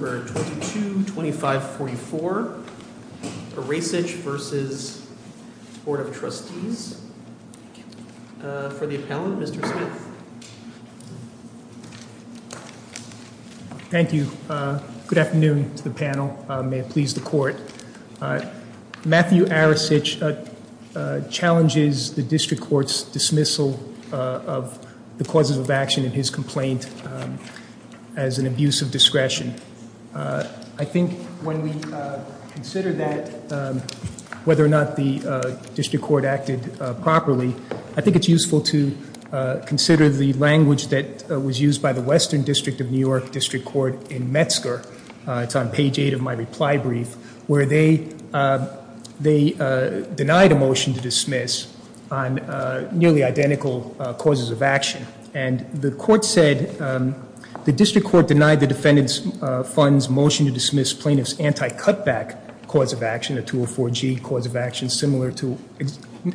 222544, Aracich v. Board of Trustees. For the appellant, Mr. Smith. Thank you. Good afternoon to the panel. May it please the court. Matthew Aracich challenges the district court's dismissal of the causes of action in his complaint as an abuse of discretion. I think when we consider that, whether or not the district court acted properly, I think it's useful to consider the language that was used by the Western District of New York District Court in Metzger. It's on page 8 of my reply brief, where they denied a motion to dismiss on nearly identical causes of action. And the court said, the district court denied the defendant's funds motion to dismiss plaintiff's anti-cutback cause of action, a 204G cause of action similar to,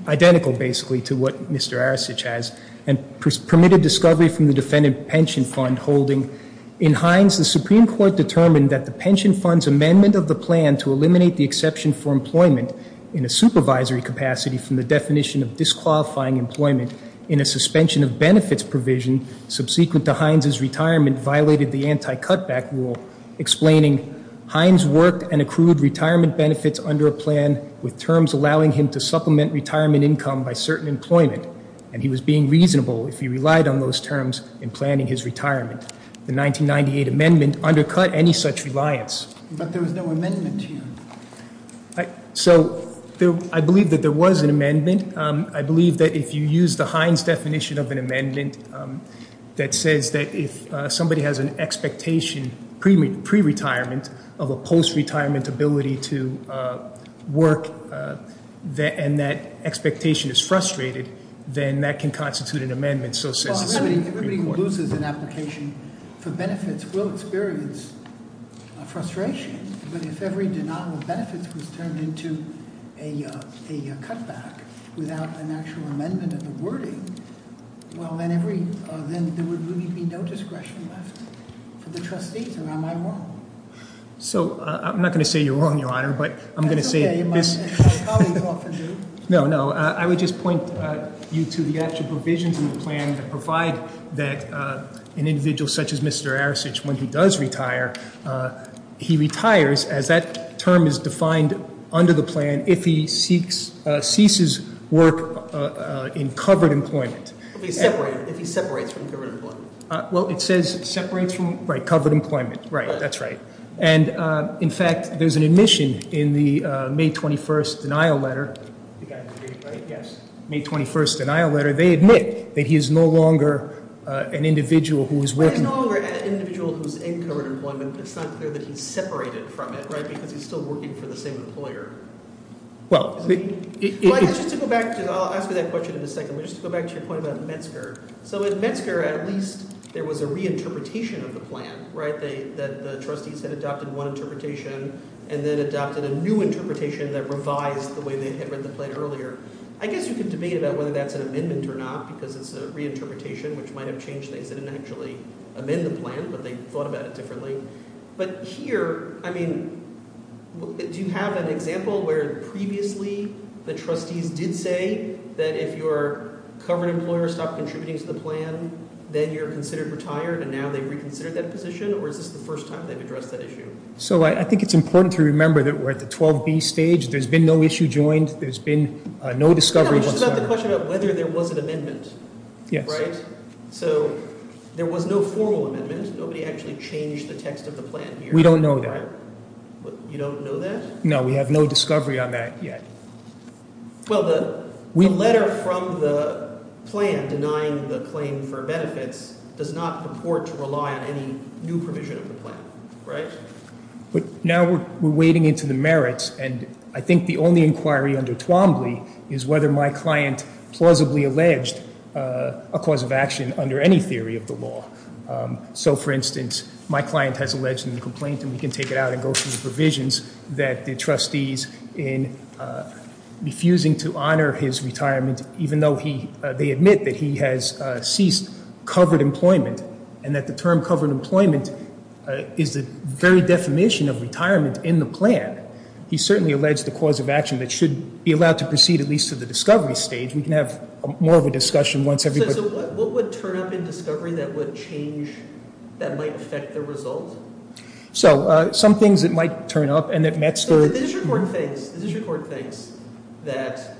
identical basically to what Mr. Aracich has, and permitted discovery from the defendant pension fund holding. In Hines, the Supreme Court determined that the pension fund's amendment of the plan to eliminate the exception for employment in a supervisory capacity from the definition of disqualifying employment in a suspension of benefits provision subsequent to Hines' retirement violated the anti-cutback rule, explaining, Hines worked and accrued retirement benefits under a plan with terms allowing him to supplement retirement income by certain employment. And he was being reasonable if he relied on those terms in planning his retirement. The 1998 amendment undercut any such reliance. But there was no amendment here. So I believe that there was an amendment. I believe that if you use the Hines definition of an amendment that says that if somebody has an expectation pre-retirement of a post-retirement ability to work, and that expectation is frustrated, then that can constitute an amendment. So says the Supreme Court. Everybody who loses an application for benefits will experience frustration. But if every denial of benefits was turned into a cutback without an actual amendment of the wording, well, then there would really be no discretion left for the trustees, or am I wrong? So I'm not going to say you're wrong, Your Honor, but I'm going to say- That's okay. My colleagues often do. No, no. I would just point you to the actual provisions in the plan that provide that an individual such as Mr. Arasich, when he does retire, he retires as that term is defined under the plan if he ceases work in covered employment. If he's separated, if he separates from covered employment. Well, it says separates from, right, covered employment. Right, that's right. And, in fact, there's an admission in the May 21st denial letter. You guys agree, right? Yes. May 21st denial letter. They admit that he is no longer an individual who is working- He's no longer an individual who's in covered employment. It's not clear that he's separated from it, right, because he's still working for the same employer. Well- Well, I guess just to go back, I'll ask you that question in a second, but just to go back to your point about Metzger. So in Metzger, at least there was a reinterpretation of the plan, right? The trustees had adopted one interpretation and then adopted a new interpretation that revised the way they had read the plan earlier. I guess you can debate about whether that's an amendment or not because it's a reinterpretation, which might have changed things. They didn't actually amend the plan, but they thought about it differently. But here, I mean, do you have an example where previously the trustees did say that if your covered employer stopped contributing to the plan, then you're considered retired, and now they reconsidered that position, or is this the first time they've addressed that issue? So I think it's important to remember that we're at the 12B stage. There's been no issue joined. There's been no discovery whatsoever. I have a question about whether there was an amendment. Yes. Right? So there was no formal amendment. Nobody actually changed the text of the plan here. We don't know that. You don't know that? No, we have no discovery on that yet. Well, the letter from the plan denying the claim for benefits does not purport to rely on any new provision of the plan, right? But now we're wading into the merits, and I think the only inquiry under Twombly is whether my client plausibly alleged a cause of action under any theory of the law. So, for instance, my client has alleged in the complaint, and we can take it out and go through the provisions, that the trustees, in refusing to honor his retirement, even though they admit that he has ceased covered employment, and that the term covered employment is the very definition of retirement in the plan, he certainly alleged a cause of action that should be allowed to proceed at least to the discovery stage. We can have more of a discussion once everybody — So what would turn up in discovery that would change, that might affect the result? So some things that might turn up, and that Matt's — The district court thinks that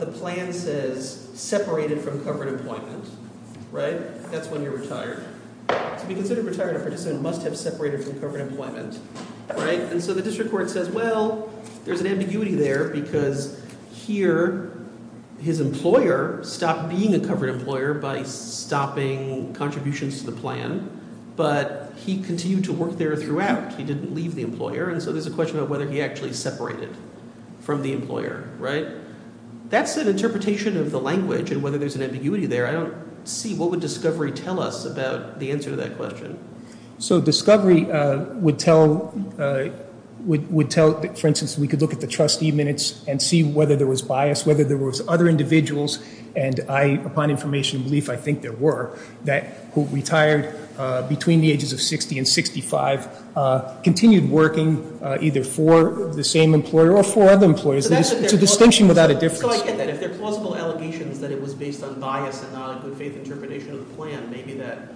the plan says separated from covered employment, right? That's when you're retired. To be considered retired, a participant must have separated from covered employment, right? And so the district court says, well, there's an ambiguity there because here his employer stopped being a covered employer by stopping contributions to the plan, but he continued to work there throughout. In fact, he didn't leave the employer, and so there's a question of whether he actually separated from the employer, right? That's an interpretation of the language and whether there's an ambiguity there. I don't see — what would discovery tell us about the answer to that question? So discovery would tell — would tell, for instance, we could look at the trustee minutes and see whether there was bias, and I, upon information and belief, I think there were, that who retired between the ages of 60 and 65 continued working either for the same employer or for other employers. It's a distinction without a difference. So I get that. If they're plausible allegations that it was based on bias and not on good faith interpretation of the plan, maybe that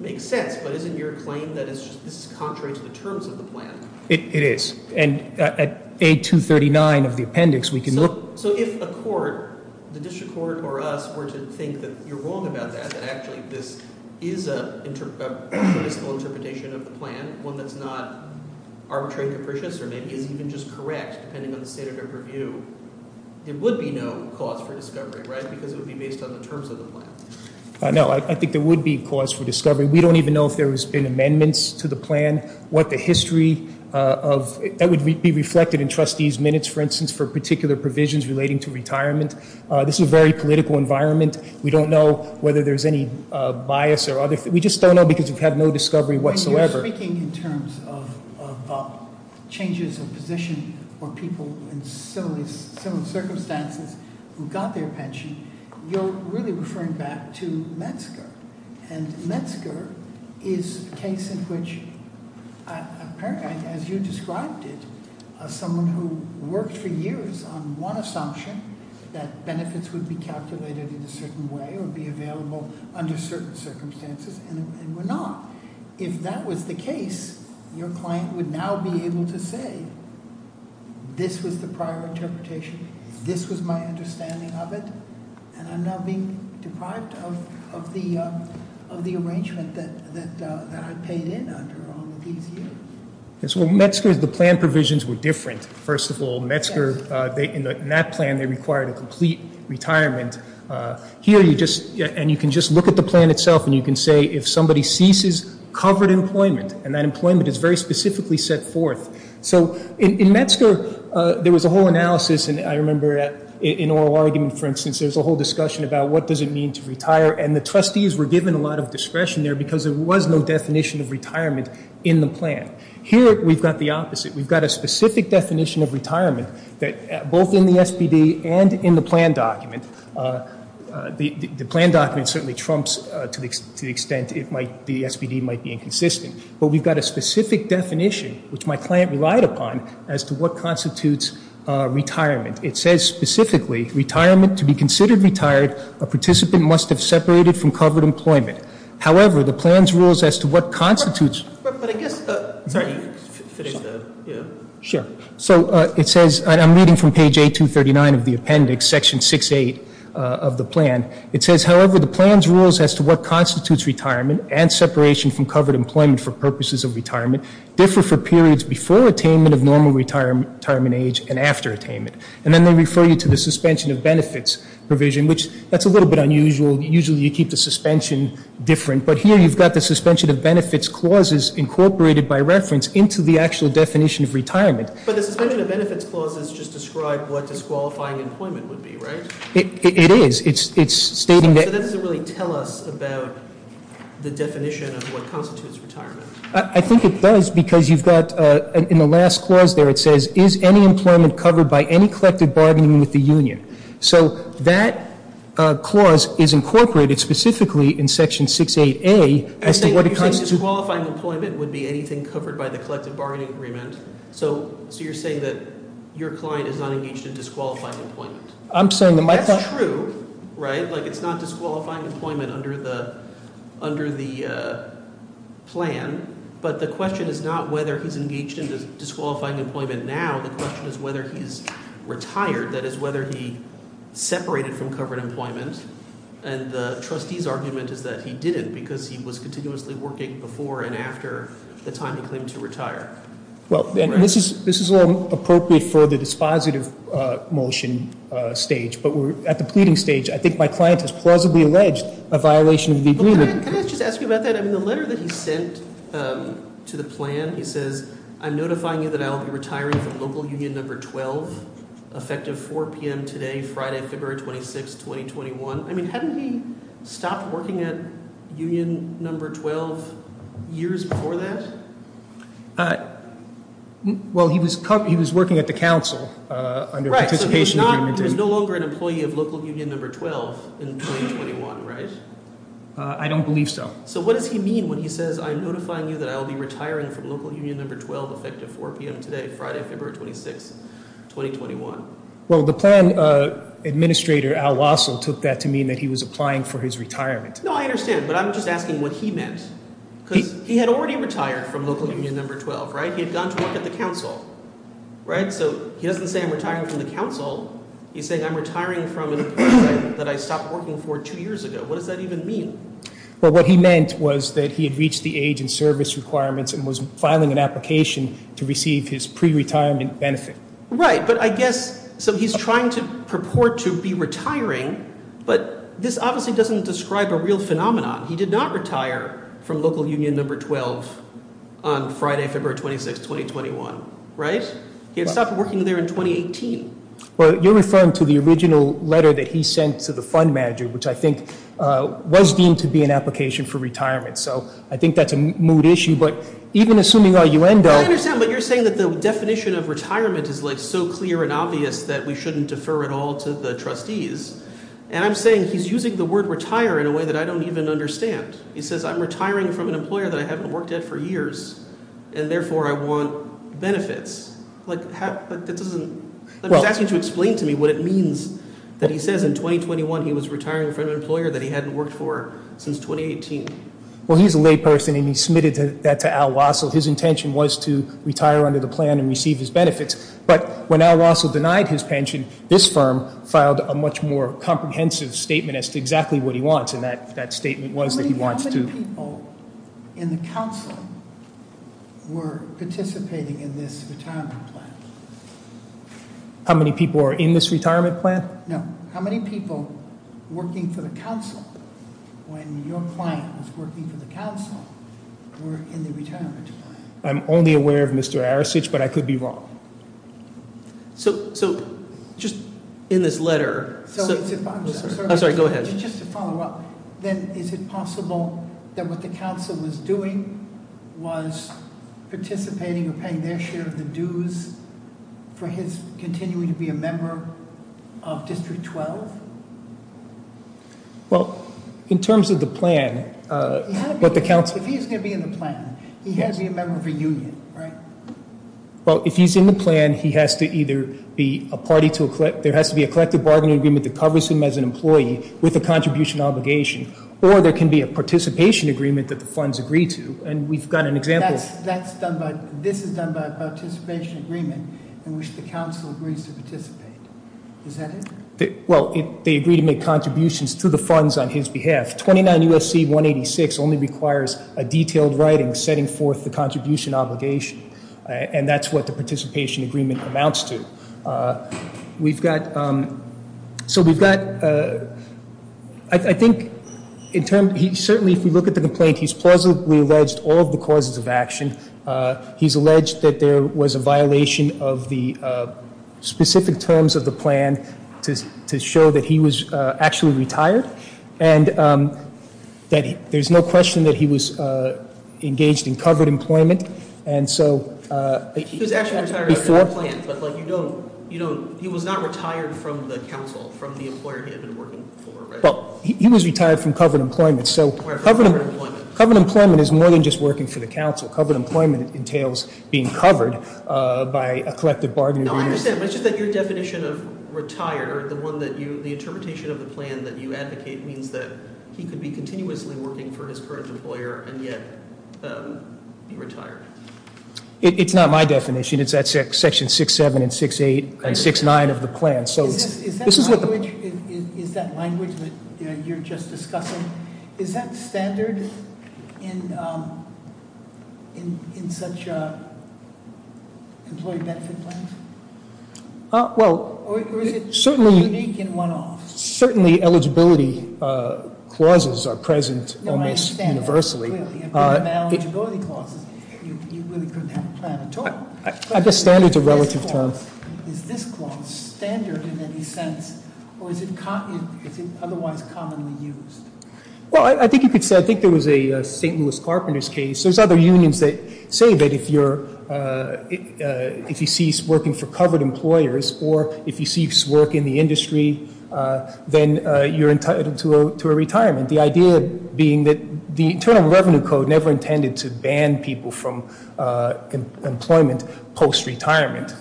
makes sense. But isn't your claim that this is contrary to the terms of the plan? It is. And at A239 of the appendix, we can look — So if a court, the district court or us, were to think that you're wrong about that, that actually this is a statistical interpretation of the plan, one that's not arbitrary capricious or maybe is even just correct depending on the standard of review, there would be no cause for discovery, right? Because it would be based on the terms of the plan. No, I think there would be cause for discovery. We don't even know if there has been amendments to the plan, what the history of — That would be reflected in trustees' minutes, for instance, for particular provisions relating to retirement. This is a very political environment. We don't know whether there's any bias or other — we just don't know because we've had no discovery whatsoever. When you're speaking in terms of changes of position for people in similar circumstances who got their pension, you're really referring back to Metzger. And Metzger is a case in which, as you described it, someone who worked for years on one assumption, that benefits would be calculated in a certain way or be available under certain circumstances, and were not. If that was the case, your client would now be able to say, this was the prior interpretation, this was my understanding of it, and I'm now being deprived of the arrangement that I paid in under all of these years. Yes, well, Metzger, the plan provisions were different. First of all, Metzger, in that plan, they required a complete retirement. Here you just — and you can just look at the plan itself and you can say, if somebody ceases covered employment, and that employment is very specifically set forth. So in Metzger, there was a whole analysis, and I remember in oral argument, for instance, there was a whole discussion about what does it mean to retire, and the trustees were given a lot of discretion there because there was no definition of retirement in the plan. Here we've got the opposite. We've got a specific definition of retirement, both in the SPD and in the plan document. The plan document certainly trumps to the extent the SPD might be inconsistent, but we've got a specific definition, which my client relied upon, as to what constitutes retirement. It says specifically, retirement to be considered retired, a participant must have separated from covered employment. However, the plan's rules as to what constitutes — But I guess — sorry, finish the — Sure. So it says, and I'm reading from page 8239 of the appendix, section 68 of the plan. It says, however, the plan's rules as to what constitutes retirement and separation from covered employment for purposes of retirement differ for periods before attainment of normal retirement age and after attainment. And then they refer you to the suspension of benefits provision, which that's a little bit unusual. Usually you keep the suspension different, but here you've got the suspension of benefits clauses incorporated by reference into the actual definition of retirement. But the suspension of benefits clauses just describe what disqualifying employment would be, right? It is. It's stating that — So that doesn't really tell us about the definition of what constitutes retirement. I think it does because you've got, in the last clause there, it says, is any employment covered by any collective bargaining with the union? So that clause is incorporated specifically in section 68A as to what constitutes — You're saying disqualifying employment would be anything covered by the collective bargaining agreement. So you're saying that your client is not engaged in disqualifying employment. I'm saying that my client — That's true, right? Like it's not disqualifying employment under the plan. But the question is not whether he's engaged in disqualifying employment now. The question is whether he's retired. That is, whether he separated from covered employment. And the trustee's argument is that he didn't because he was continuously working before and after the time he claimed to retire. Well, this is all appropriate for the dispositive motion stage. But at the pleading stage, I think my client has plausibly alleged a violation of the agreement. Can I just ask you about that? I mean, the letter that he sent to the plan, he says, I'm notifying you that I will be retiring from local union number 12, effective 4 p.m. today, Friday, February 26, 2021. I mean, hadn't he stopped working at union number 12 years before that? Well, he was working at the council under participation agreement. Right. So he's no longer an employee of local union number 12 in 2021, right? I don't believe so. So what does he mean when he says, I'm notifying you that I will be retiring from local union number 12, effective 4 p.m. today, Friday, February 26, 2021? Well, the plan administrator, Al Wassel, took that to mean that he was applying for his retirement. No, I understand. But I'm just asking what he meant. Because he had already retired from local union number 12, right? He had gone to work at the council, right? So he doesn't say I'm retiring from the council. He's saying I'm retiring from an employment that I stopped working for two years ago. What does that even mean? Well, what he meant was that he had reached the age and service requirements and was filing an application to receive his pre-retirement benefit. Right. But I guess so he's trying to purport to be retiring. But this obviously doesn't describe a real phenomenon. He did not retire from local union number 12 on Friday, February 26, 2021. Right. He had stopped working there in 2018. Well, you're referring to the original letter that he sent to the fund manager, which I think was deemed to be an application for retirement. So I think that's a moot issue. But even assuming you understand what you're saying, that the definition of retirement is like so clear and obvious that we shouldn't defer at all to the trustees. And I'm saying he's using the word retire in a way that I don't even understand. He says I'm retiring from an employer that I haven't worked at for years and therefore I want benefits. But that doesn't. Well, that's going to explain to me what it means that he says in 2021, he was retiring from an employer that he hadn't worked for since 2018. Well, he's a layperson and he submitted that to Al Wessel. His intention was to retire under the plan and receive his benefits. But when Al Wessel denied his pension, this firm filed a much more comprehensive statement as to exactly what he wants. And that statement was that he wants to. How many people in the council were participating in this retirement plan? How many people are in this retirement plan? No. How many people working for the council when your client was working for the council were in the retirement plan? I'm only aware of Mr. Arasich, but I could be wrong. So so just in this letter. I'm sorry. Go ahead. Then is it possible that what the council was doing was participating in paying their share of the dues for his continuing to be a member of District 12? Well, in terms of the plan, what the council is going to be in the plan, he has a member of a union. Right. Well, if he's in the plan, he has to either be a party to a clip. There has to be a collective bargaining agreement that covers him as an employee with a contribution obligation. Or there can be a participation agreement that the funds agree to. And we've got an example that's done. But this is done by participation agreement in which the council agrees to participate. Well, they agree to make contributions to the funds on his behalf. Twenty nine U.S.C. one eighty six only requires a detailed writing setting forth the contribution obligation. And that's what the participation agreement amounts to. We've got. So we've got. I think in terms he certainly if you look at the complaint, he's plausibly alleged all of the causes of action. He's alleged that there was a violation of the specific terms of the plan to show that he was actually retired. And that there's no question that he was engaged in covered employment. And so. He was actually retired. Before. But like you don't. You know, he was not retired from the council, from the employer he had been working for. Well, he was retired from covered employment. So covered employment is more than just working for the council. Covered employment entails being covered by a collective bargaining. I understand. It's just that your definition of retired or the one that you the interpretation of the plan that you advocate means that he could be continuously working for his current employer. And yet he retired. It's not my definition. It's that section six, seven and six, eight and six, nine of the plan. Is that language that you're just discussing, is that standard in such employee benefit plans? Well, certainly. Or is it unique in one office? Certainly eligibility clauses are present almost universally. No, I understand that, clearly. If there are no eligibility clauses, you really couldn't have a plan at all. I guess standard's a relative term. Is this clause standard in any sense, or is it otherwise commonly used? Well, I think you could say, I think there was a St. Louis Carpenter's case. There's other unions that say that if you cease working for covered employers, or if you cease work in the industry, then you're entitled to a retirement. The idea being that the Internal Revenue Code never intended to ban people from employment post-retirement.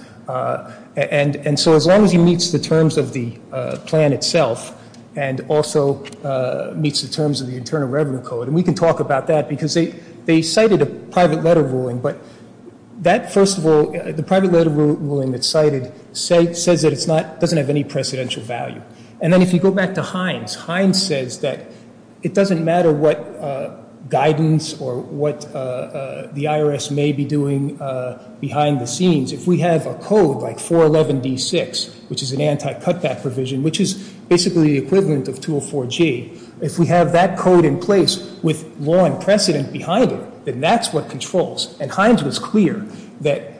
And so as long as he meets the terms of the plan itself and also meets the terms of the Internal Revenue Code, and we can talk about that because they cited a private letter ruling. But that, first of all, the private letter ruling that's cited says that it doesn't have any precedential value. And then if you go back to Hines, Hines says that it doesn't matter what guidance or what the IRS may be doing behind the scenes. If we have a code like 411D6, which is an anti-cutback provision, which is basically the equivalent of 204G, if we have that code in place with law and precedent behind it, then that's what controls. And Hines was clear that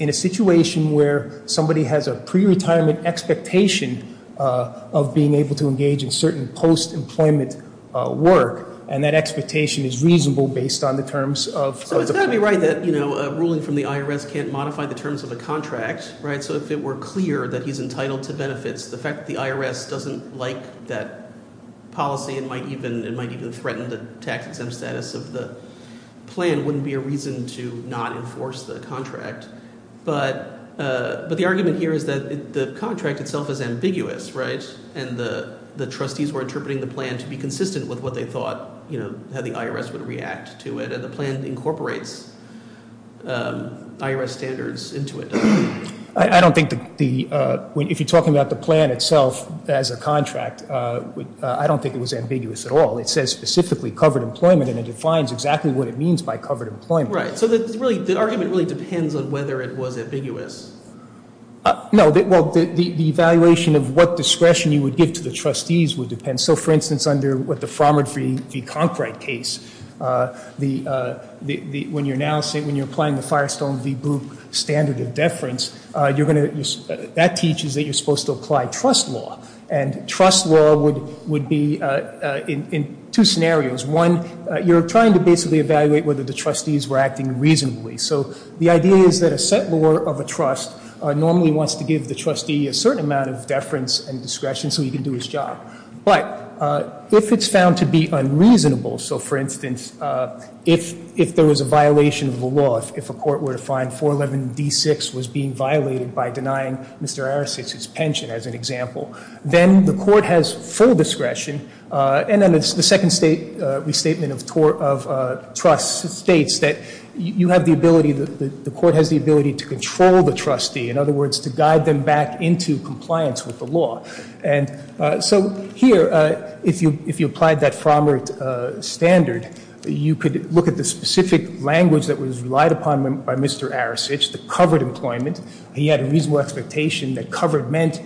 in a situation where somebody has a pre-retirement expectation of being able to engage in certain post-employment work, and that expectation is reasonable based on the terms of the plan. So it's got to be right that a ruling from the IRS can't modify the terms of a contract, right? So if it were clear that he's entitled to benefits, the fact that the IRS doesn't like that policy and might even threaten the tax-exempt status of the plan wouldn't be a reason to not enforce the contract. But the argument here is that the contract itself is ambiguous, right? And the trustees were interpreting the plan to be consistent with what they thought, you know, how the IRS would react to it. And the plan incorporates IRS standards into it. I don't think the – if you're talking about the plan itself as a contract, I don't think it was ambiguous at all. It says specifically covered employment, and it defines exactly what it means by covered employment. Right. So the argument really depends on whether it was ambiguous. No. Well, the evaluation of what discretion you would give to the trustees would depend. And so, for instance, under what the Frommer v. Conkright case, the – when you're now saying – when you're applying the Firestone v. Bloop standard of deference, you're going to – that teaches that you're supposed to apply trust law. And trust law would be in two scenarios. One, you're trying to basically evaluate whether the trustees were acting reasonably. So the idea is that a set law of a trust normally wants to give the trustee a certain amount of deference and discretion so he can do his job. But if it's found to be unreasonable – so, for instance, if there was a violation of the law, if a court were to find 411D6 was being violated by denying Mr. Arasitz his pension, as an example, then the court has full discretion. And then the second restatement of trust states that you have the ability – the court has the ability to control the trustee, in other words, to guide them back into compliance with the law. And so here, if you – if you applied that Frommer standard, you could look at the specific language that was relied upon by Mr. Arasitz to cover employment. He had a reasonable expectation that covered meant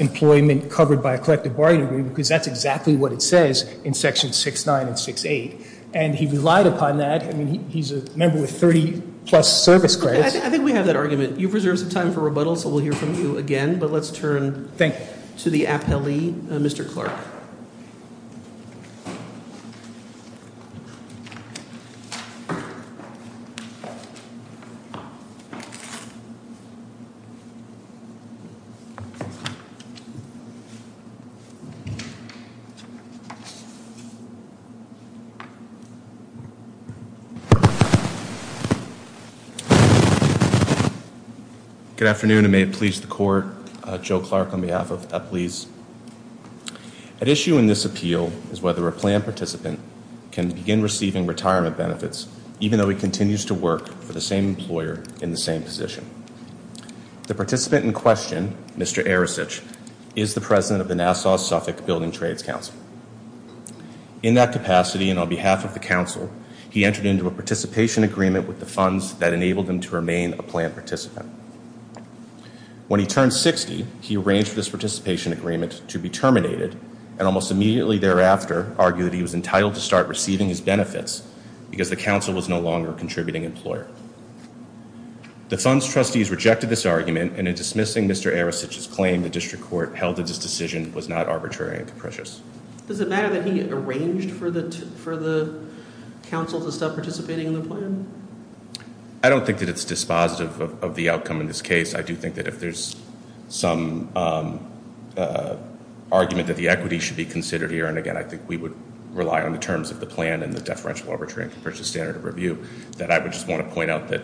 employment covered by a collective bargaining agreement because that's exactly what it says in section 6-9 and 6-8. And he relied upon that. I mean, he's a member with 30-plus service credits. I think we have that argument. You've reserved some time for rebuttal, so we'll hear from you again. But let's turn to the appellee, Mr. Clark. Good afternoon, and may it please the court, Joe Clark on behalf of appellees. At issue in this appeal is whether a plan participant can begin receiving retirement benefits, even though he continues to work for the same employer in the same position. The participant in question, Mr. Arasitz, is the president of the Nassau-Suffolk Building Trades Council. He entered into a participation agreement with the funds that enabled him to remain a plan participant. When he turned 60, he arranged for this participation agreement to be terminated and almost immediately thereafter argued he was entitled to start receiving his benefits because the council was no longer a contributing employer. The funds trustees rejected this argument, and in dismissing Mr. Arasitz's claim the district court held that this decision was not arbitrary and capricious. Does it matter that he arranged for the council to stop participating in the plan? I don't think that it's dispositive of the outcome in this case. I do think that if there's some argument that the equity should be considered here, and again I think we would rely on the terms of the plan and the deferential arbitration versus standard of review, that I would just want to point out that,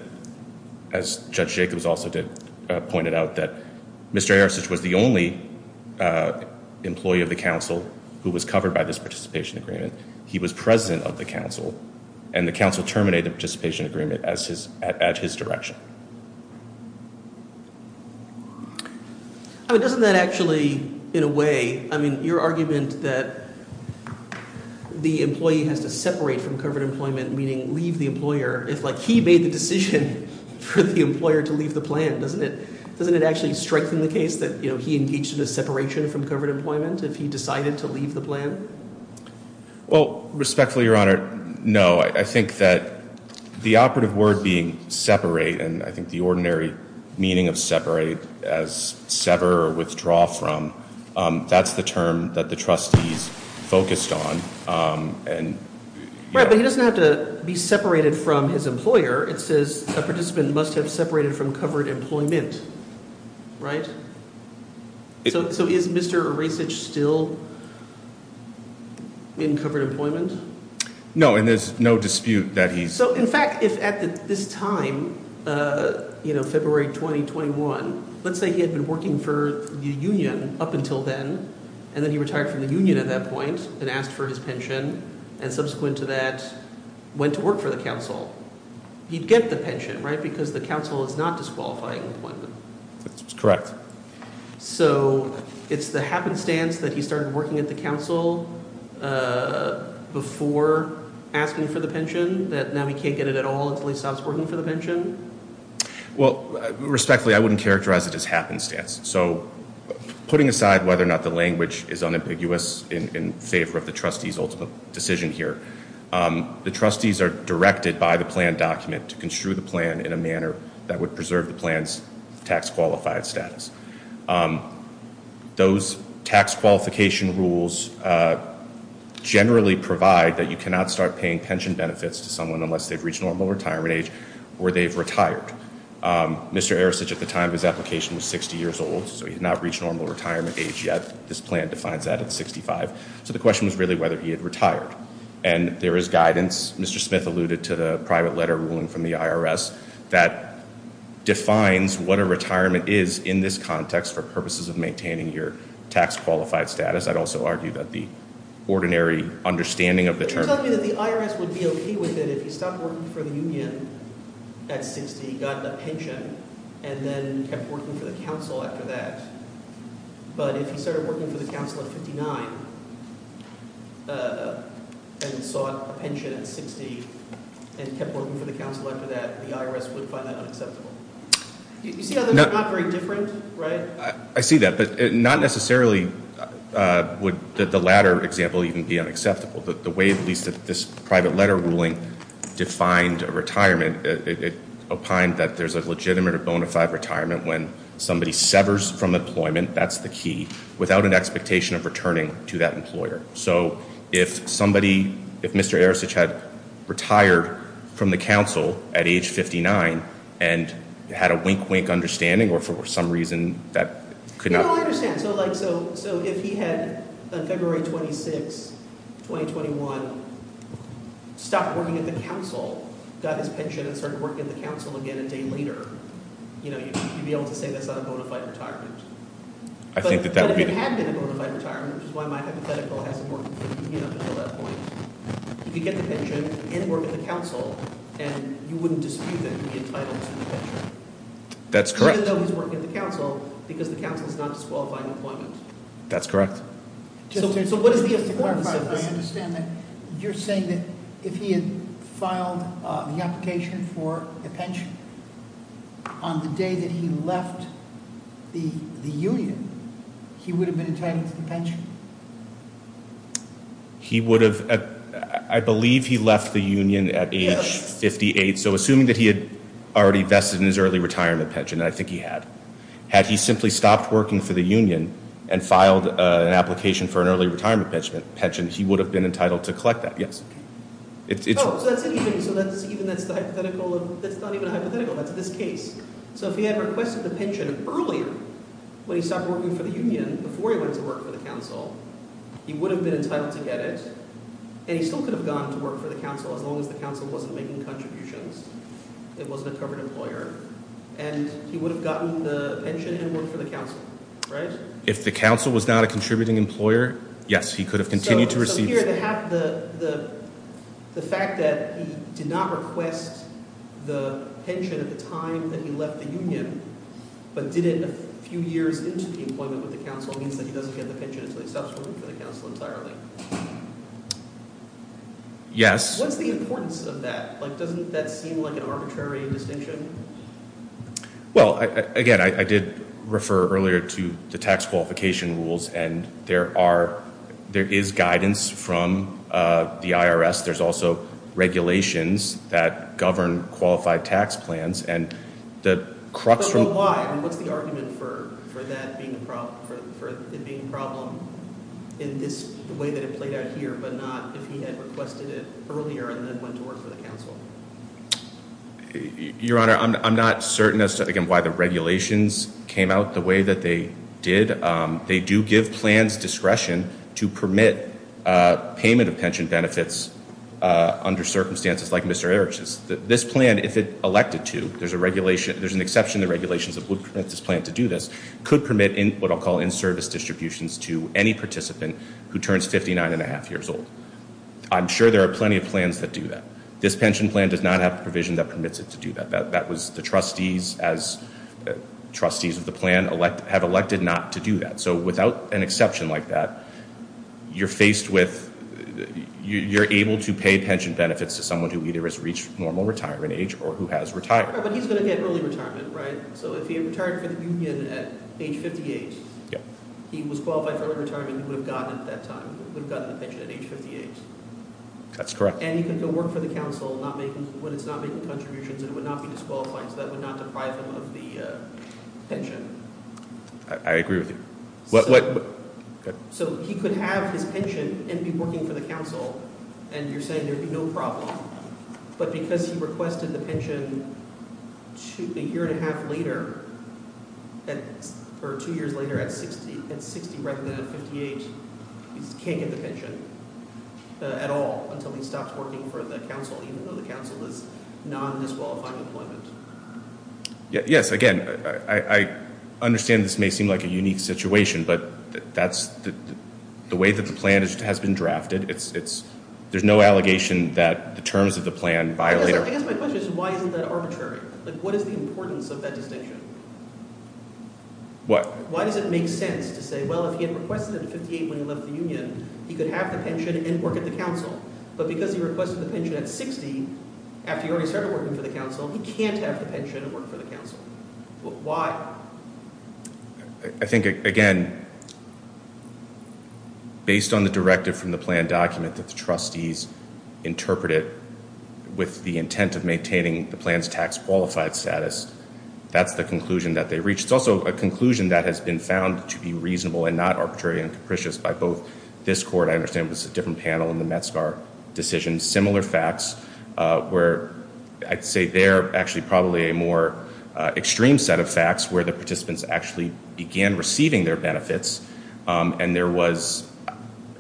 as Judge Jacobs also did, Mr. Arasitz was the only employee of the council who was covered by this participation agreement. He was president of the council, and the council terminated the participation agreement at his direction. Doesn't that actually, in a way, your argument that the employee has to separate from covered employment, meaning leave the employer, is like he made the decision for the employer to leave the plan, doesn't it? Doesn't it actually strengthen the case that he engaged in a separation from covered employment if he decided to leave the plan? Well, respectfully, Your Honor, no. I think that the operative word being separate, and I think the ordinary meaning of separate as sever or withdraw from, that's the term that the trustees focused on. Right, but he doesn't have to be separated from his employer. It says a participant must have separated from covered employment, right? So is Mr. Arasitz still in covered employment? No, and there's no dispute that he's. So, in fact, if at this time, February 2021, let's say he had been working for the union up until then, and then he retired from the union at that point and asked for his pension, and subsequent to that went to work for the council, he'd get the pension, right, because the council is not disqualifying employment. That's correct. So it's the happenstance that he started working at the council before asking for the pension that now he can't get it at all until he stops working for the pension? Well, respectfully, I wouldn't characterize it as happenstance. So putting aside whether or not the language is unambiguous in favor of the trustee's ultimate decision here, the trustees are directed by the plan document to construe the plan in a manner that would preserve the plan's tax qualified status. Those tax qualification rules generally provide that you cannot start paying pension benefits to someone unless they've reached normal retirement age or they've retired. Mr. Arasich, at the time of his application, was 60 years old, so he had not reached normal retirement age yet. This plan defines that at 65. So the question was really whether he had retired, and there is guidance. Mr. Smith alluded to the private letter ruling from the IRS that defines what a retirement is in this context for purposes of maintaining your tax qualified status. I'd also argue that the ordinary understanding of the term— But you're telling me that the IRS would be okay with it if he stopped working for the union at 60, got a pension, and then kept working for the council after that. But if he started working for the council at 59 and sought a pension at 60 and kept working for the council after that, the IRS would find that unacceptable. You see how they're not very different, right? I see that, but not necessarily would the latter example even be unacceptable. The way, at least, that this private letter ruling defined a retirement, it opined that there's a legitimate or bona fide retirement when somebody severs from employment—that's the key— without an expectation of returning to that employer. So if somebody—if Mr. Arasich had retired from the council at age 59 and had a wink-wink understanding or for some reason that could not— No, I understand. So if he had, on February 26, 2021, stopped working at the council, got his pension and started working at the council again a day later, you'd be able to say that's not a bona fide retirement. I think that that would be— But if it had been a bona fide retirement, which is why my hypothetical hasn't worked until that point, he could get the pension and work at the council, and you wouldn't dispute that he'd be entitled to the pension. That's correct. Even though he's working at the council, because the council is not disqualifying employment. That's correct. So what is the importance of this? I understand that you're saying that if he had filed the application for the pension on the day that he left the union, he would have been entitled to the pension. He would have—I believe he left the union at age 58, so assuming that he had already vested in his early retirement pension, and I think he had. Had he simply stopped working for the union and filed an application for an early retirement pension, he would have been entitled to collect that, yes. Oh, so that's anything. So that's even—that's the hypothetical of—that's not even a hypothetical. That's this case. So if he had requested the pension earlier when he stopped working for the union before he went to work for the council, he would have been entitled to get it, and he still could have gone to work for the council as long as the council wasn't making contributions, it wasn't a covered employer, and he would have gotten the pension and worked for the council, right? If the council was not a contributing employer, yes, he could have continued to receive— The fact that he did not request the pension at the time that he left the union, but did it a few years into the employment with the council, means that he doesn't get the pension until he stops working for the council entirely. Yes. What's the importance of that? Like, doesn't that seem like an arbitrary distinction? Well, again, I did refer earlier to the tax qualification rules, and there are—there is guidance from the IRS, there's also regulations that govern qualified tax plans, and the crux from— But why? I mean, what's the argument for that being a problem—for it being a problem in this—the way that it played out here, but not if he had requested it earlier and then went to work for the council? Your Honor, I'm not certain as to, again, why the regulations came out the way that they did. They do give plans discretion to permit payment of pension benefits under circumstances like Mr. Erickson's. This plan, if it elected to—there's an exception to regulations that would permit this plan to do this— could permit what I'll call in-service distributions to any participant who turns 59 and a half years old. I'm sure there are plenty of plans that do that. This pension plan does not have a provision that permits it to do that. That was—the trustees, as trustees of the plan, have elected not to do that. So without an exception like that, you're faced with— you're able to pay pension benefits to someone who either has reached normal retirement age or who has retired. But he's going to get early retirement, right? So if he had retired from the union at age 58, he was qualified for early retirement, he would have gotten it at that time, would have gotten the pension at age 58. That's correct. And he can go work for the council when it's not making contributions and would not be disqualified, so that would not deprive him of the pension. I agree with you. So he could have his pension and be working for the council, and you're saying there'd be no problem. But because he requested the pension a year and a half later, or two years later, at 60, he can't get the pension at all until he stops working for the council, even though the council is non-disqualifying employment. Yes, again, I understand this may seem like a unique situation, but that's the way that the plan has been drafted. There's no allegation that the terms of the plan violate— I guess my question is, why isn't that arbitrary? What is the importance of that distinction? What? Why does it make sense to say, well, if he had requested it at 58 when he left the union, he could have the pension and work at the council. But because he requested the pension at 60, after he already started working for the council, he can't have the pension and work for the council. Why? I think, again, based on the directive from the plan document that the trustees interpreted with the intent of maintaining the plan's tax-qualified status, that's the conclusion that they reached. It's also a conclusion that has been found to be reasonable and not arbitrary and capricious by both this court—I understand it was a different panel in the Metzgar decision— similar facts, where I'd say they're actually probably a more extreme set of facts where the participants actually began receiving their benefits, and there was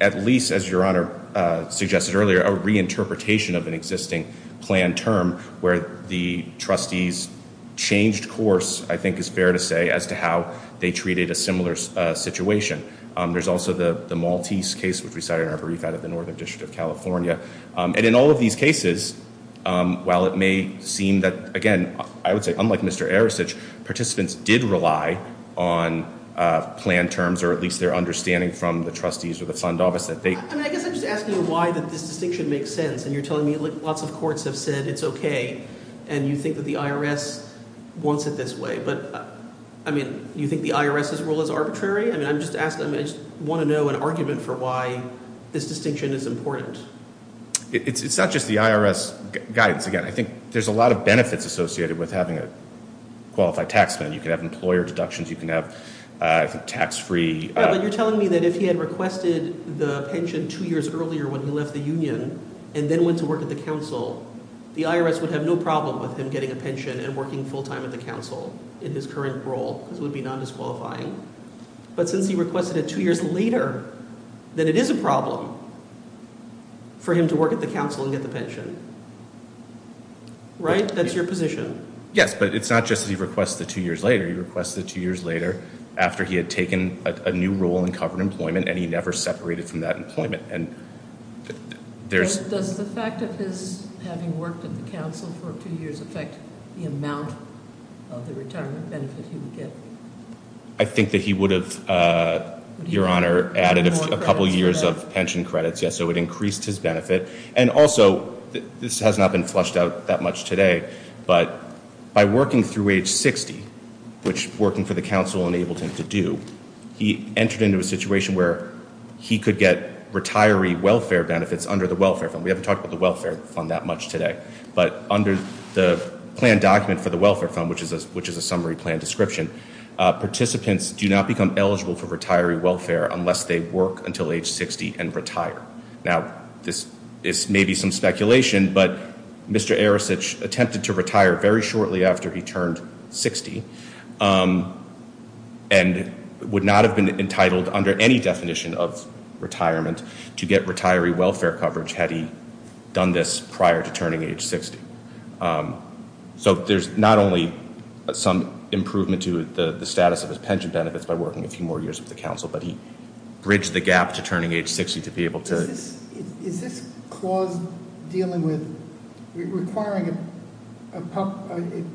at least, as Your Honor suggested earlier, a reinterpretation of an existing plan term where the trustees changed course, I think it's fair to say, as to how they treated a similar situation. There's also the Maltese case, which we cited in our brief out of the Northern District of California. And in all of these cases, while it may seem that, again, I would say, unlike Mr. Arasich, participants did rely on plan terms, or at least their understanding from the trustees or the fund office, that they— I mean, I guess I'm just asking why this distinction makes sense, and you're telling me, like, lots of courts have said it's okay, and you think that the IRS wants it this way. But, I mean, you think the IRS's role is arbitrary? I mean, I'm just asking—I just want to know an argument for why this distinction is important. It's not just the IRS guidance. Again, I think there's a lot of benefits associated with having a qualified taxman. You can have employer deductions. You can have, I think, tax-free— Yeah, but you're telling me that if he had requested the pension two years earlier when he left the union and then went to work at the council, the IRS would have no problem with him getting a pension and working full-time at the council in his current role because it would be non-disqualifying. But since he requested it two years later, then it is a problem for him to work at the council and get the pension. Right? That's your position. Yes, but it's not just that he requested it two years later. He requested it two years later after he had taken a new role in covered employment, and he never separated from that employment. Does the fact of his having worked at the council for two years affect the amount of the retirement benefit he would get? I think that he would have, Your Honor, added a couple years of pension credits, yes, so it increased his benefit. And also, this has not been flushed out that much today, but by working through age 60, which working for the council enabled him to do, he entered into a situation where he could get retiree welfare benefits under the welfare fund. We haven't talked about the welfare fund that much today. But under the plan document for the welfare fund, which is a summary plan description, participants do not become eligible for retiree welfare unless they work until age 60 and retire. Now, this may be some speculation, but Mr. Arasich attempted to retire very shortly after he turned 60, and would not have been entitled, under any definition of retirement, to get retiree welfare coverage had he done this prior to turning age 60. So there's not only some improvement to the status of his pension benefits by working a few more years with the council, but he bridged the gap to turning age 60 to be able to- Is this clause dealing with requiring a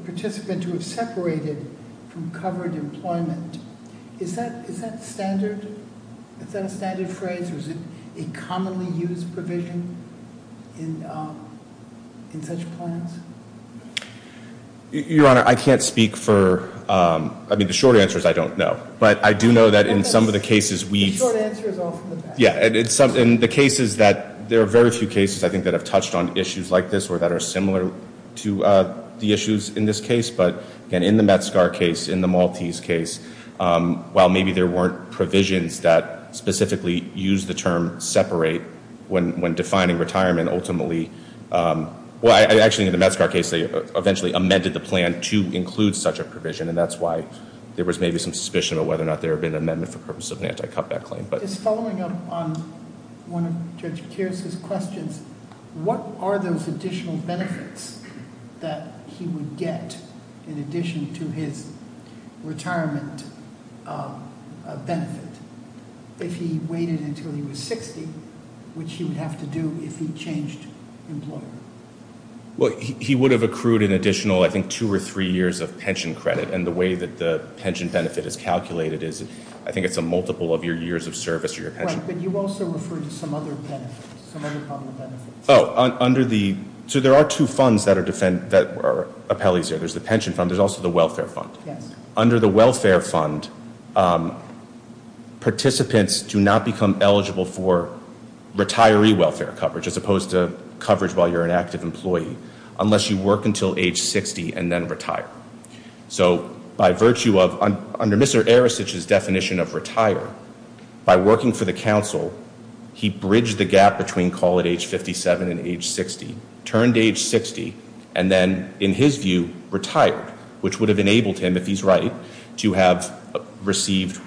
participant to have separated from covered employment, is that standard? Is that a standard phrase, or is it a commonly used provision in such plans? Your Honor, I can't speak for, I mean, the short answer is I don't know. But I do know that in some of the cases we- The short answer is off in the back. Yeah, in the cases that, there are very few cases, I think, that have touched on issues like this or that are similar to the issues in this case. But, again, in the Metzgar case, in the Maltese case, while maybe there weren't provisions that specifically used the term separate when defining retirement, ultimately, well, actually, in the Metzgar case, they eventually amended the plan to include such a provision, and that's why there was maybe some suspicion about whether or not there had been an amendment for the purpose of an anti-cutback claim. Just following up on one of Judge Keir's questions, what are those additional benefits that he would get in addition to his retirement benefit if he waited until he was 60, which he would have to do if he changed employment? Well, he would have accrued an additional, I think, two or three years of pension credit, and the way that the pension benefit is calculated is, I think, it's a multiple of your years of service or your pension. Right, but you also referred to some other benefits, some other common benefits. Oh, under the, so there are two funds that are appellees here. There's the pension fund. There's also the welfare fund. Yes. Under the welfare fund, participants do not become eligible for retiree welfare coverage as opposed to coverage while you're an active employee unless you work until age 60 and then retire. So by virtue of, under Mr. Arasich's definition of retire, by working for the council, he bridged the gap between call at age 57 and age 60, turned age 60, and then, in his view, retired, which would have enabled him, if he's right, to have received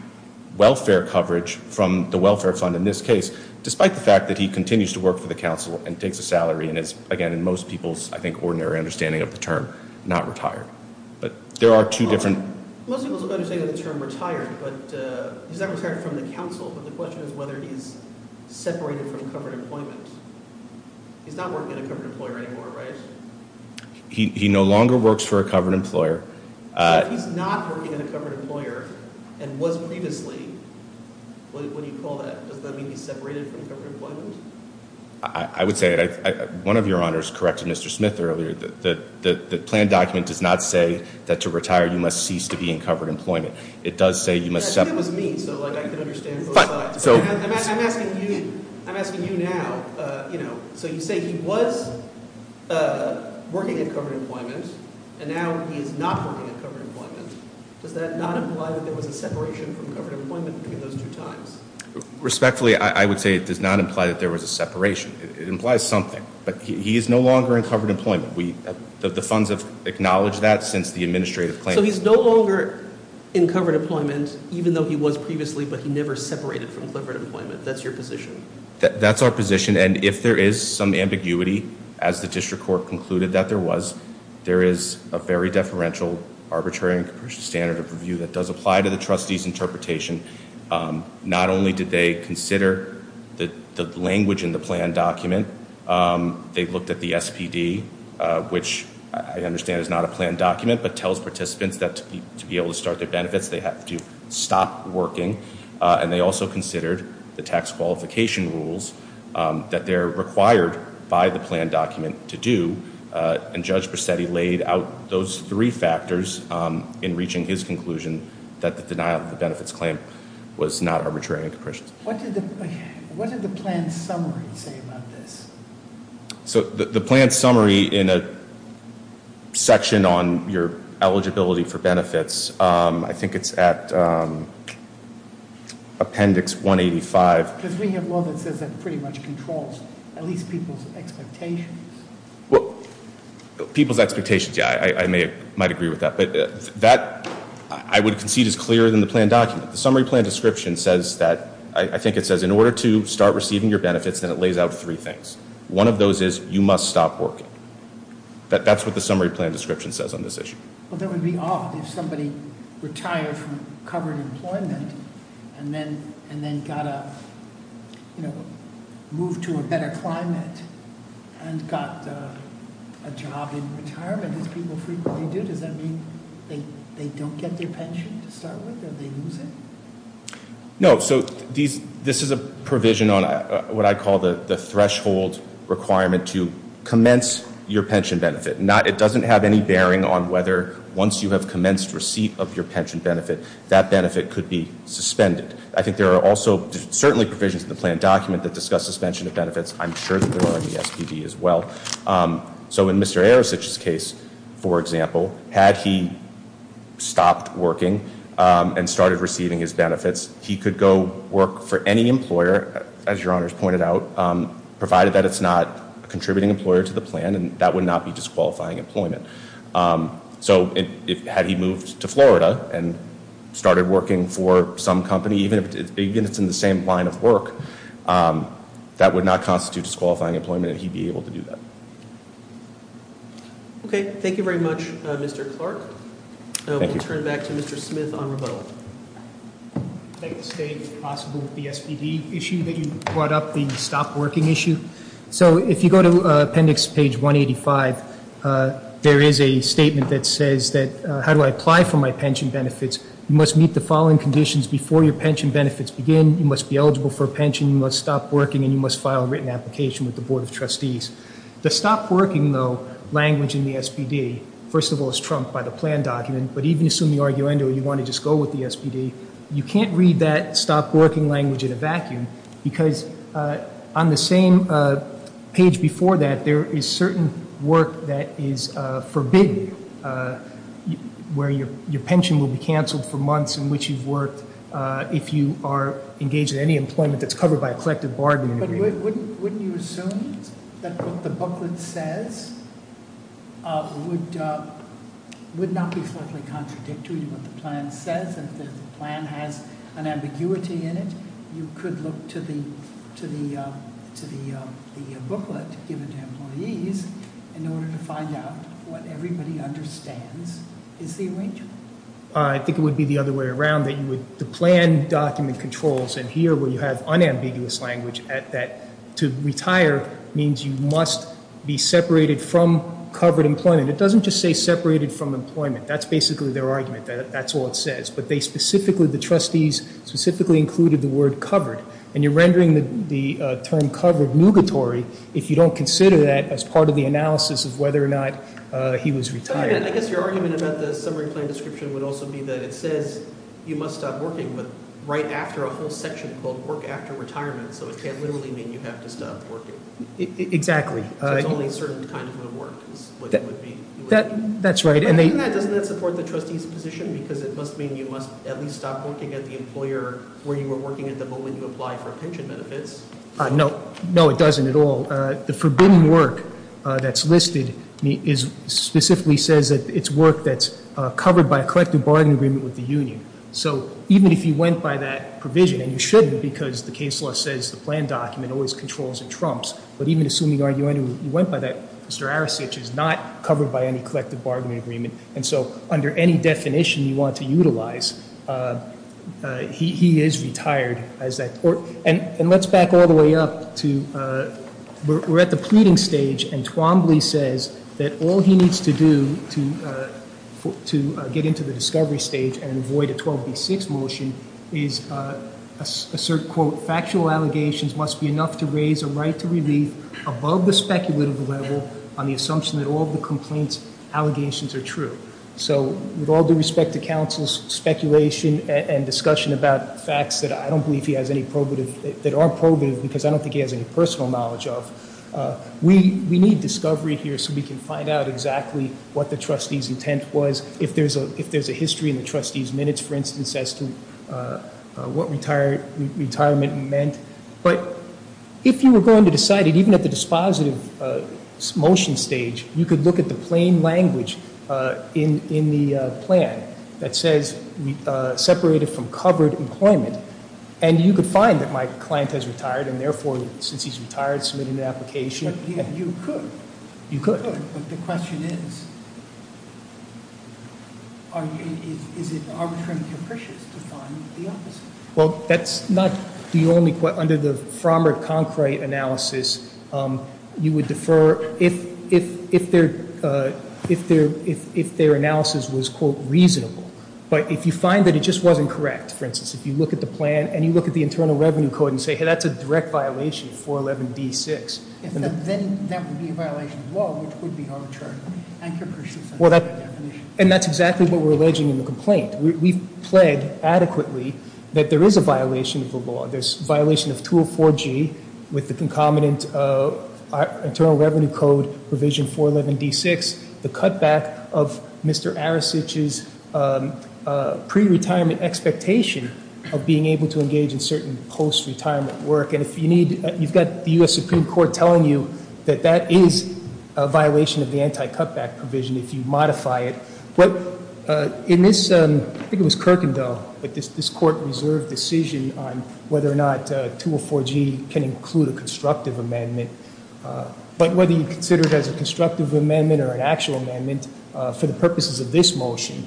welfare coverage from the welfare fund in this case, despite the fact that he continues to work for the council and takes a salary and is, again, in most people's, I think, ordinary understanding of the term, not retired. But there are two different. Most people's understanding of the term retired, but he's not retired from the council, but the question is whether he's separated from covered employment. He's not working as a covered employer anymore, right? He no longer works for a covered employer. So if he's not working as a covered employer and was previously, what do you call that? Does that mean he's separated from covered employment? I would say it. One of your honors corrected Mr. Smith earlier. The plan document does not say that to retire you must cease to be in covered employment. It does say you must- I think it was me, so, like, I can understand both sides. I'm asking you now, you know, so you say he was working at covered employment, and now he is not working at covered employment. Does that not imply that there was a separation from covered employment between those two times? Respectfully, I would say it does not imply that there was a separation. It implies something, but he is no longer in covered employment. The funds have acknowledged that since the administrative claim. So he's no longer in covered employment, even though he was previously, but he never separated from covered employment. That's your position? That's our position, and if there is some ambiguity, as the district court concluded that there was, there is a very deferential arbitrary standard of review that does apply to the trustee's interpretation, not only did they consider the language in the plan document, they looked at the SPD, which I understand is not a plan document, but tells participants that to be able to start their benefits they have to stop working, and they also considered the tax qualification rules that they're required by the plan document to do, and Judge Bracetti laid out those three factors in reaching his conclusion that the denial of the benefits claim was not arbitrary and capricious. What did the plan summary say about this? So the plan summary in a section on your eligibility for benefits, I think it's at appendix 185. Because we have law that says that pretty much controls at least people's expectations. Well, people's expectations, yeah, I might agree with that. But that I would concede is clearer than the plan document. The summary plan description says that, I think it says in order to start receiving your benefits, then it lays out three things. One of those is you must stop working. That's what the summary plan description says on this issue. Well, that would be odd if somebody retired from covered employment and then got a, you know, moved to a better climate and got a job in retirement as people frequently do. Does that mean they don't get their pension to start with or they lose it? No. So this is a provision on what I call the threshold requirement to commence your pension benefit. It doesn't have any bearing on whether once you have commenced receipt of your pension benefit, that benefit could be suspended. I think there are also certainly provisions in the plan document that discuss suspension of benefits. I'm sure that there are in the SPD as well. So in Mr. Arasich's case, for example, had he stopped working and started receiving his benefits, he could go work for any employer, as your honors pointed out, provided that it's not a contributing employer to the plan, and that would not be disqualifying employment. So had he moved to Florida and started working for some company, even if it's in the same line of work, that would not constitute disqualifying employment and he'd be able to do that. Okay. Thank you very much, Mr. Clark. We'll turn it back to Mr. Smith on rebuttal. I'd like to state if possible the SPD issue that you brought up, the stop working issue. So if you go to appendix page 185, there is a statement that says that how do I apply for my pension benefits? You must meet the following conditions before your pension benefits begin. You must be eligible for a pension, you must stop working, and you must file a written application with the Board of Trustees. The stop working, though, language in the SPD, first of all, is trumped by the plan document, but even assuming the argument that you want to just go with the SPD, you can't read that stop working language in a vacuum because on the same page before that, there is certain work that is forbidden where your pension will be canceled for months in which you've worked if you are engaged in any employment that's covered by a collective bargaining agreement. Wouldn't you assume that what the booklet says would not be slightly contradictory to what the plan says? If the plan has an ambiguity in it, you could look to the booklet given to employees in order to find out what everybody understands is the arrangement? I think it would be the other way around. The plan document controls, and here where you have unambiguous language, that to retire means you must be separated from covered employment. It doesn't just say separated from employment. That's basically their argument. That's all it says. But the trustees specifically included the word covered, and you're rendering the term covered nugatory if you don't consider that as part of the analysis of whether or not he was retired. I guess your argument about the summary plan description would also be that it says you must stop working right after a whole section called work after retirement, so it can't literally mean you have to stop working. Exactly. It's only certain kinds of work is what it would mean. That's right. Doesn't that support the trustees' position because it must mean you must at least stop working at the employer where you were working at the moment you applied for pension benefits? No. No, it doesn't at all. The forbidden work that's listed specifically says that it's work that's covered by a collective bargaining agreement with the union. So even if you went by that provision, and you shouldn't because the case law says the plan document always controls and trumps, but even assuming you went by that, Mr. Arasich is not covered by any collective bargaining agreement, and so under any definition you want to utilize, he is retired. And let's back all the way up. We're at the pleading stage, and Twombly says that all he needs to do to get into the discovery stage and avoid a 12B6 motion is assert, quote, factual allegations must be enough to raise a right to relief above the speculative level on the assumption that all of the complaints allegations are true. So with all due respect to counsel's speculation and discussion about facts that I don't believe he has any probative, that are probative because I don't think he has any personal knowledge of, we need discovery here so we can find out exactly what the trustee's intent was, if there's a history in the trustee's minutes, for instance, as to what retirement meant. But if you were going to decide it, even at the dispositive motion stage, you could look at the plain language in the plan that says separated from covered employment, and you could find that my client has retired, and therefore, since he's retired, submitted an application. You could. You could. But the question is, is it arbitrarily capricious to find the opposite? Well, that's not the only question. Under the Frommer-Conkright analysis, you would defer if their analysis was, quote, reasonable. But if you find that it just wasn't correct, for instance, if you look at the plan and you look at the internal revenue code and say, hey, that's a direct violation of 411D6. Then that would be a violation of the law, which would be arbitrary. And capricious in that definition. And that's exactly what we're alleging in the complaint. We've pled adequately that there is a violation of the law. There's a violation of 204G with the concomitant internal revenue code provision 411D6. The cutback of Mr. Arasich's pre-retirement expectation of being able to engage in certain post-retirement work. And if you need, you've got the U.S. Supreme Court telling you that that is a violation of the anti-cutback provision if you modify it. In this, I think it was Kirkendall, but this court reserved decision on whether or not 204G can include a constructive amendment. But whether you consider it as a constructive amendment or an actual amendment, for the purposes of this motion,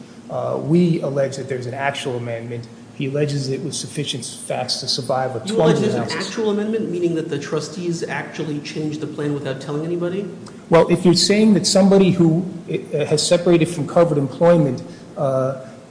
we allege that there's an actual amendment. He alleges it was sufficient facts to survive a 20-year analysis. You allege there's an actual amendment, meaning that the trustees actually changed the plan without telling anybody? Well, if you're saying that somebody who has separated from covered employment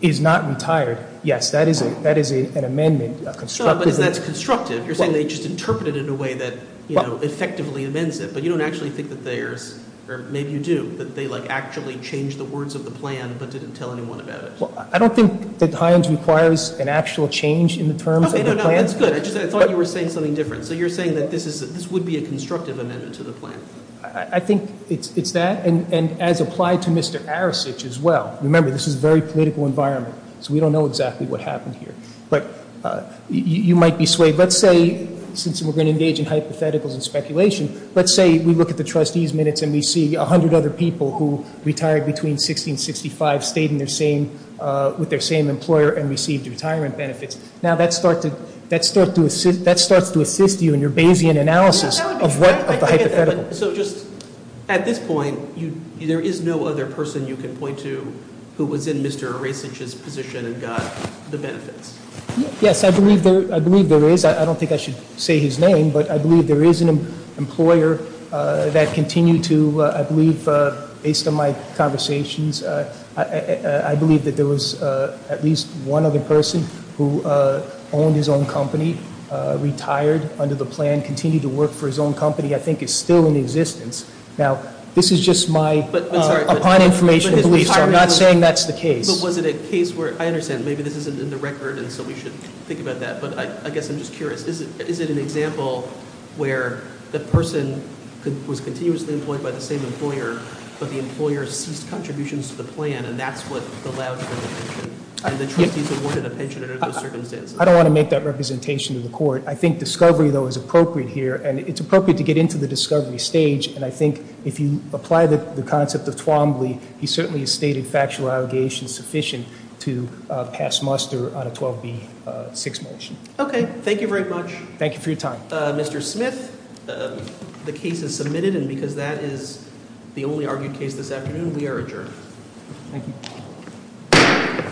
is not retired, yes, that is an amendment. No, but that's constructive. You're saying they just interpreted it in a way that effectively amends it. But you don't actually think that there's, or maybe you do, that they actually changed the words of the plan but didn't tell anyone about it. I don't think that Hines requires an actual change in the terms of the plan. Okay, no, no, that's good. I just thought you were saying something different. So you're saying that this would be a constructive amendment to the plan? I think it's that, and as applied to Mr. Arasich as well. Remember, this is a very political environment, so we don't know exactly what happened here. But you might be swayed. Let's say, since we're going to engage in hypotheticals and speculation, let's say we look at the trustees' minutes and we see 100 other people who retired between 16 and 65, stayed with their same employer and received retirement benefits. Now, that starts to assist you in your Bayesian analysis of the hypotheticals. At this point, there is no other person you can point to who was in Mr. Arasich's position and got the benefits? Yes, I believe there is. I don't think I should say his name, but I believe there is an employer that continued to, I believe, based on my conversations, I believe that there was at least one other person who owned his own company, retired under the plan, continued to work for his own company. I think it's still in existence. Now, this is just my upon information belief, so I'm not saying that's the case. But was it a case where, I understand, maybe this isn't in the record, and so we should think about that, but I guess I'm just curious, is it an example where the person was continuously employed by the same employer, but the employer ceased contributions to the plan, and that's what allowed for the pension? And the trustees awarded a pension under those circumstances? I don't want to make that representation to the court. I think discovery, though, is appropriate here, and it's appropriate to get into the discovery stage, and I think if you apply the concept of Twombly, he certainly has stated factual allegations sufficient to pass muster on a 12B6 motion. Okay. Thank you very much. Thank you for your time. Mr. Smith, the case is submitted, and because that is the only argued case this afternoon, we are adjourned. Thank you.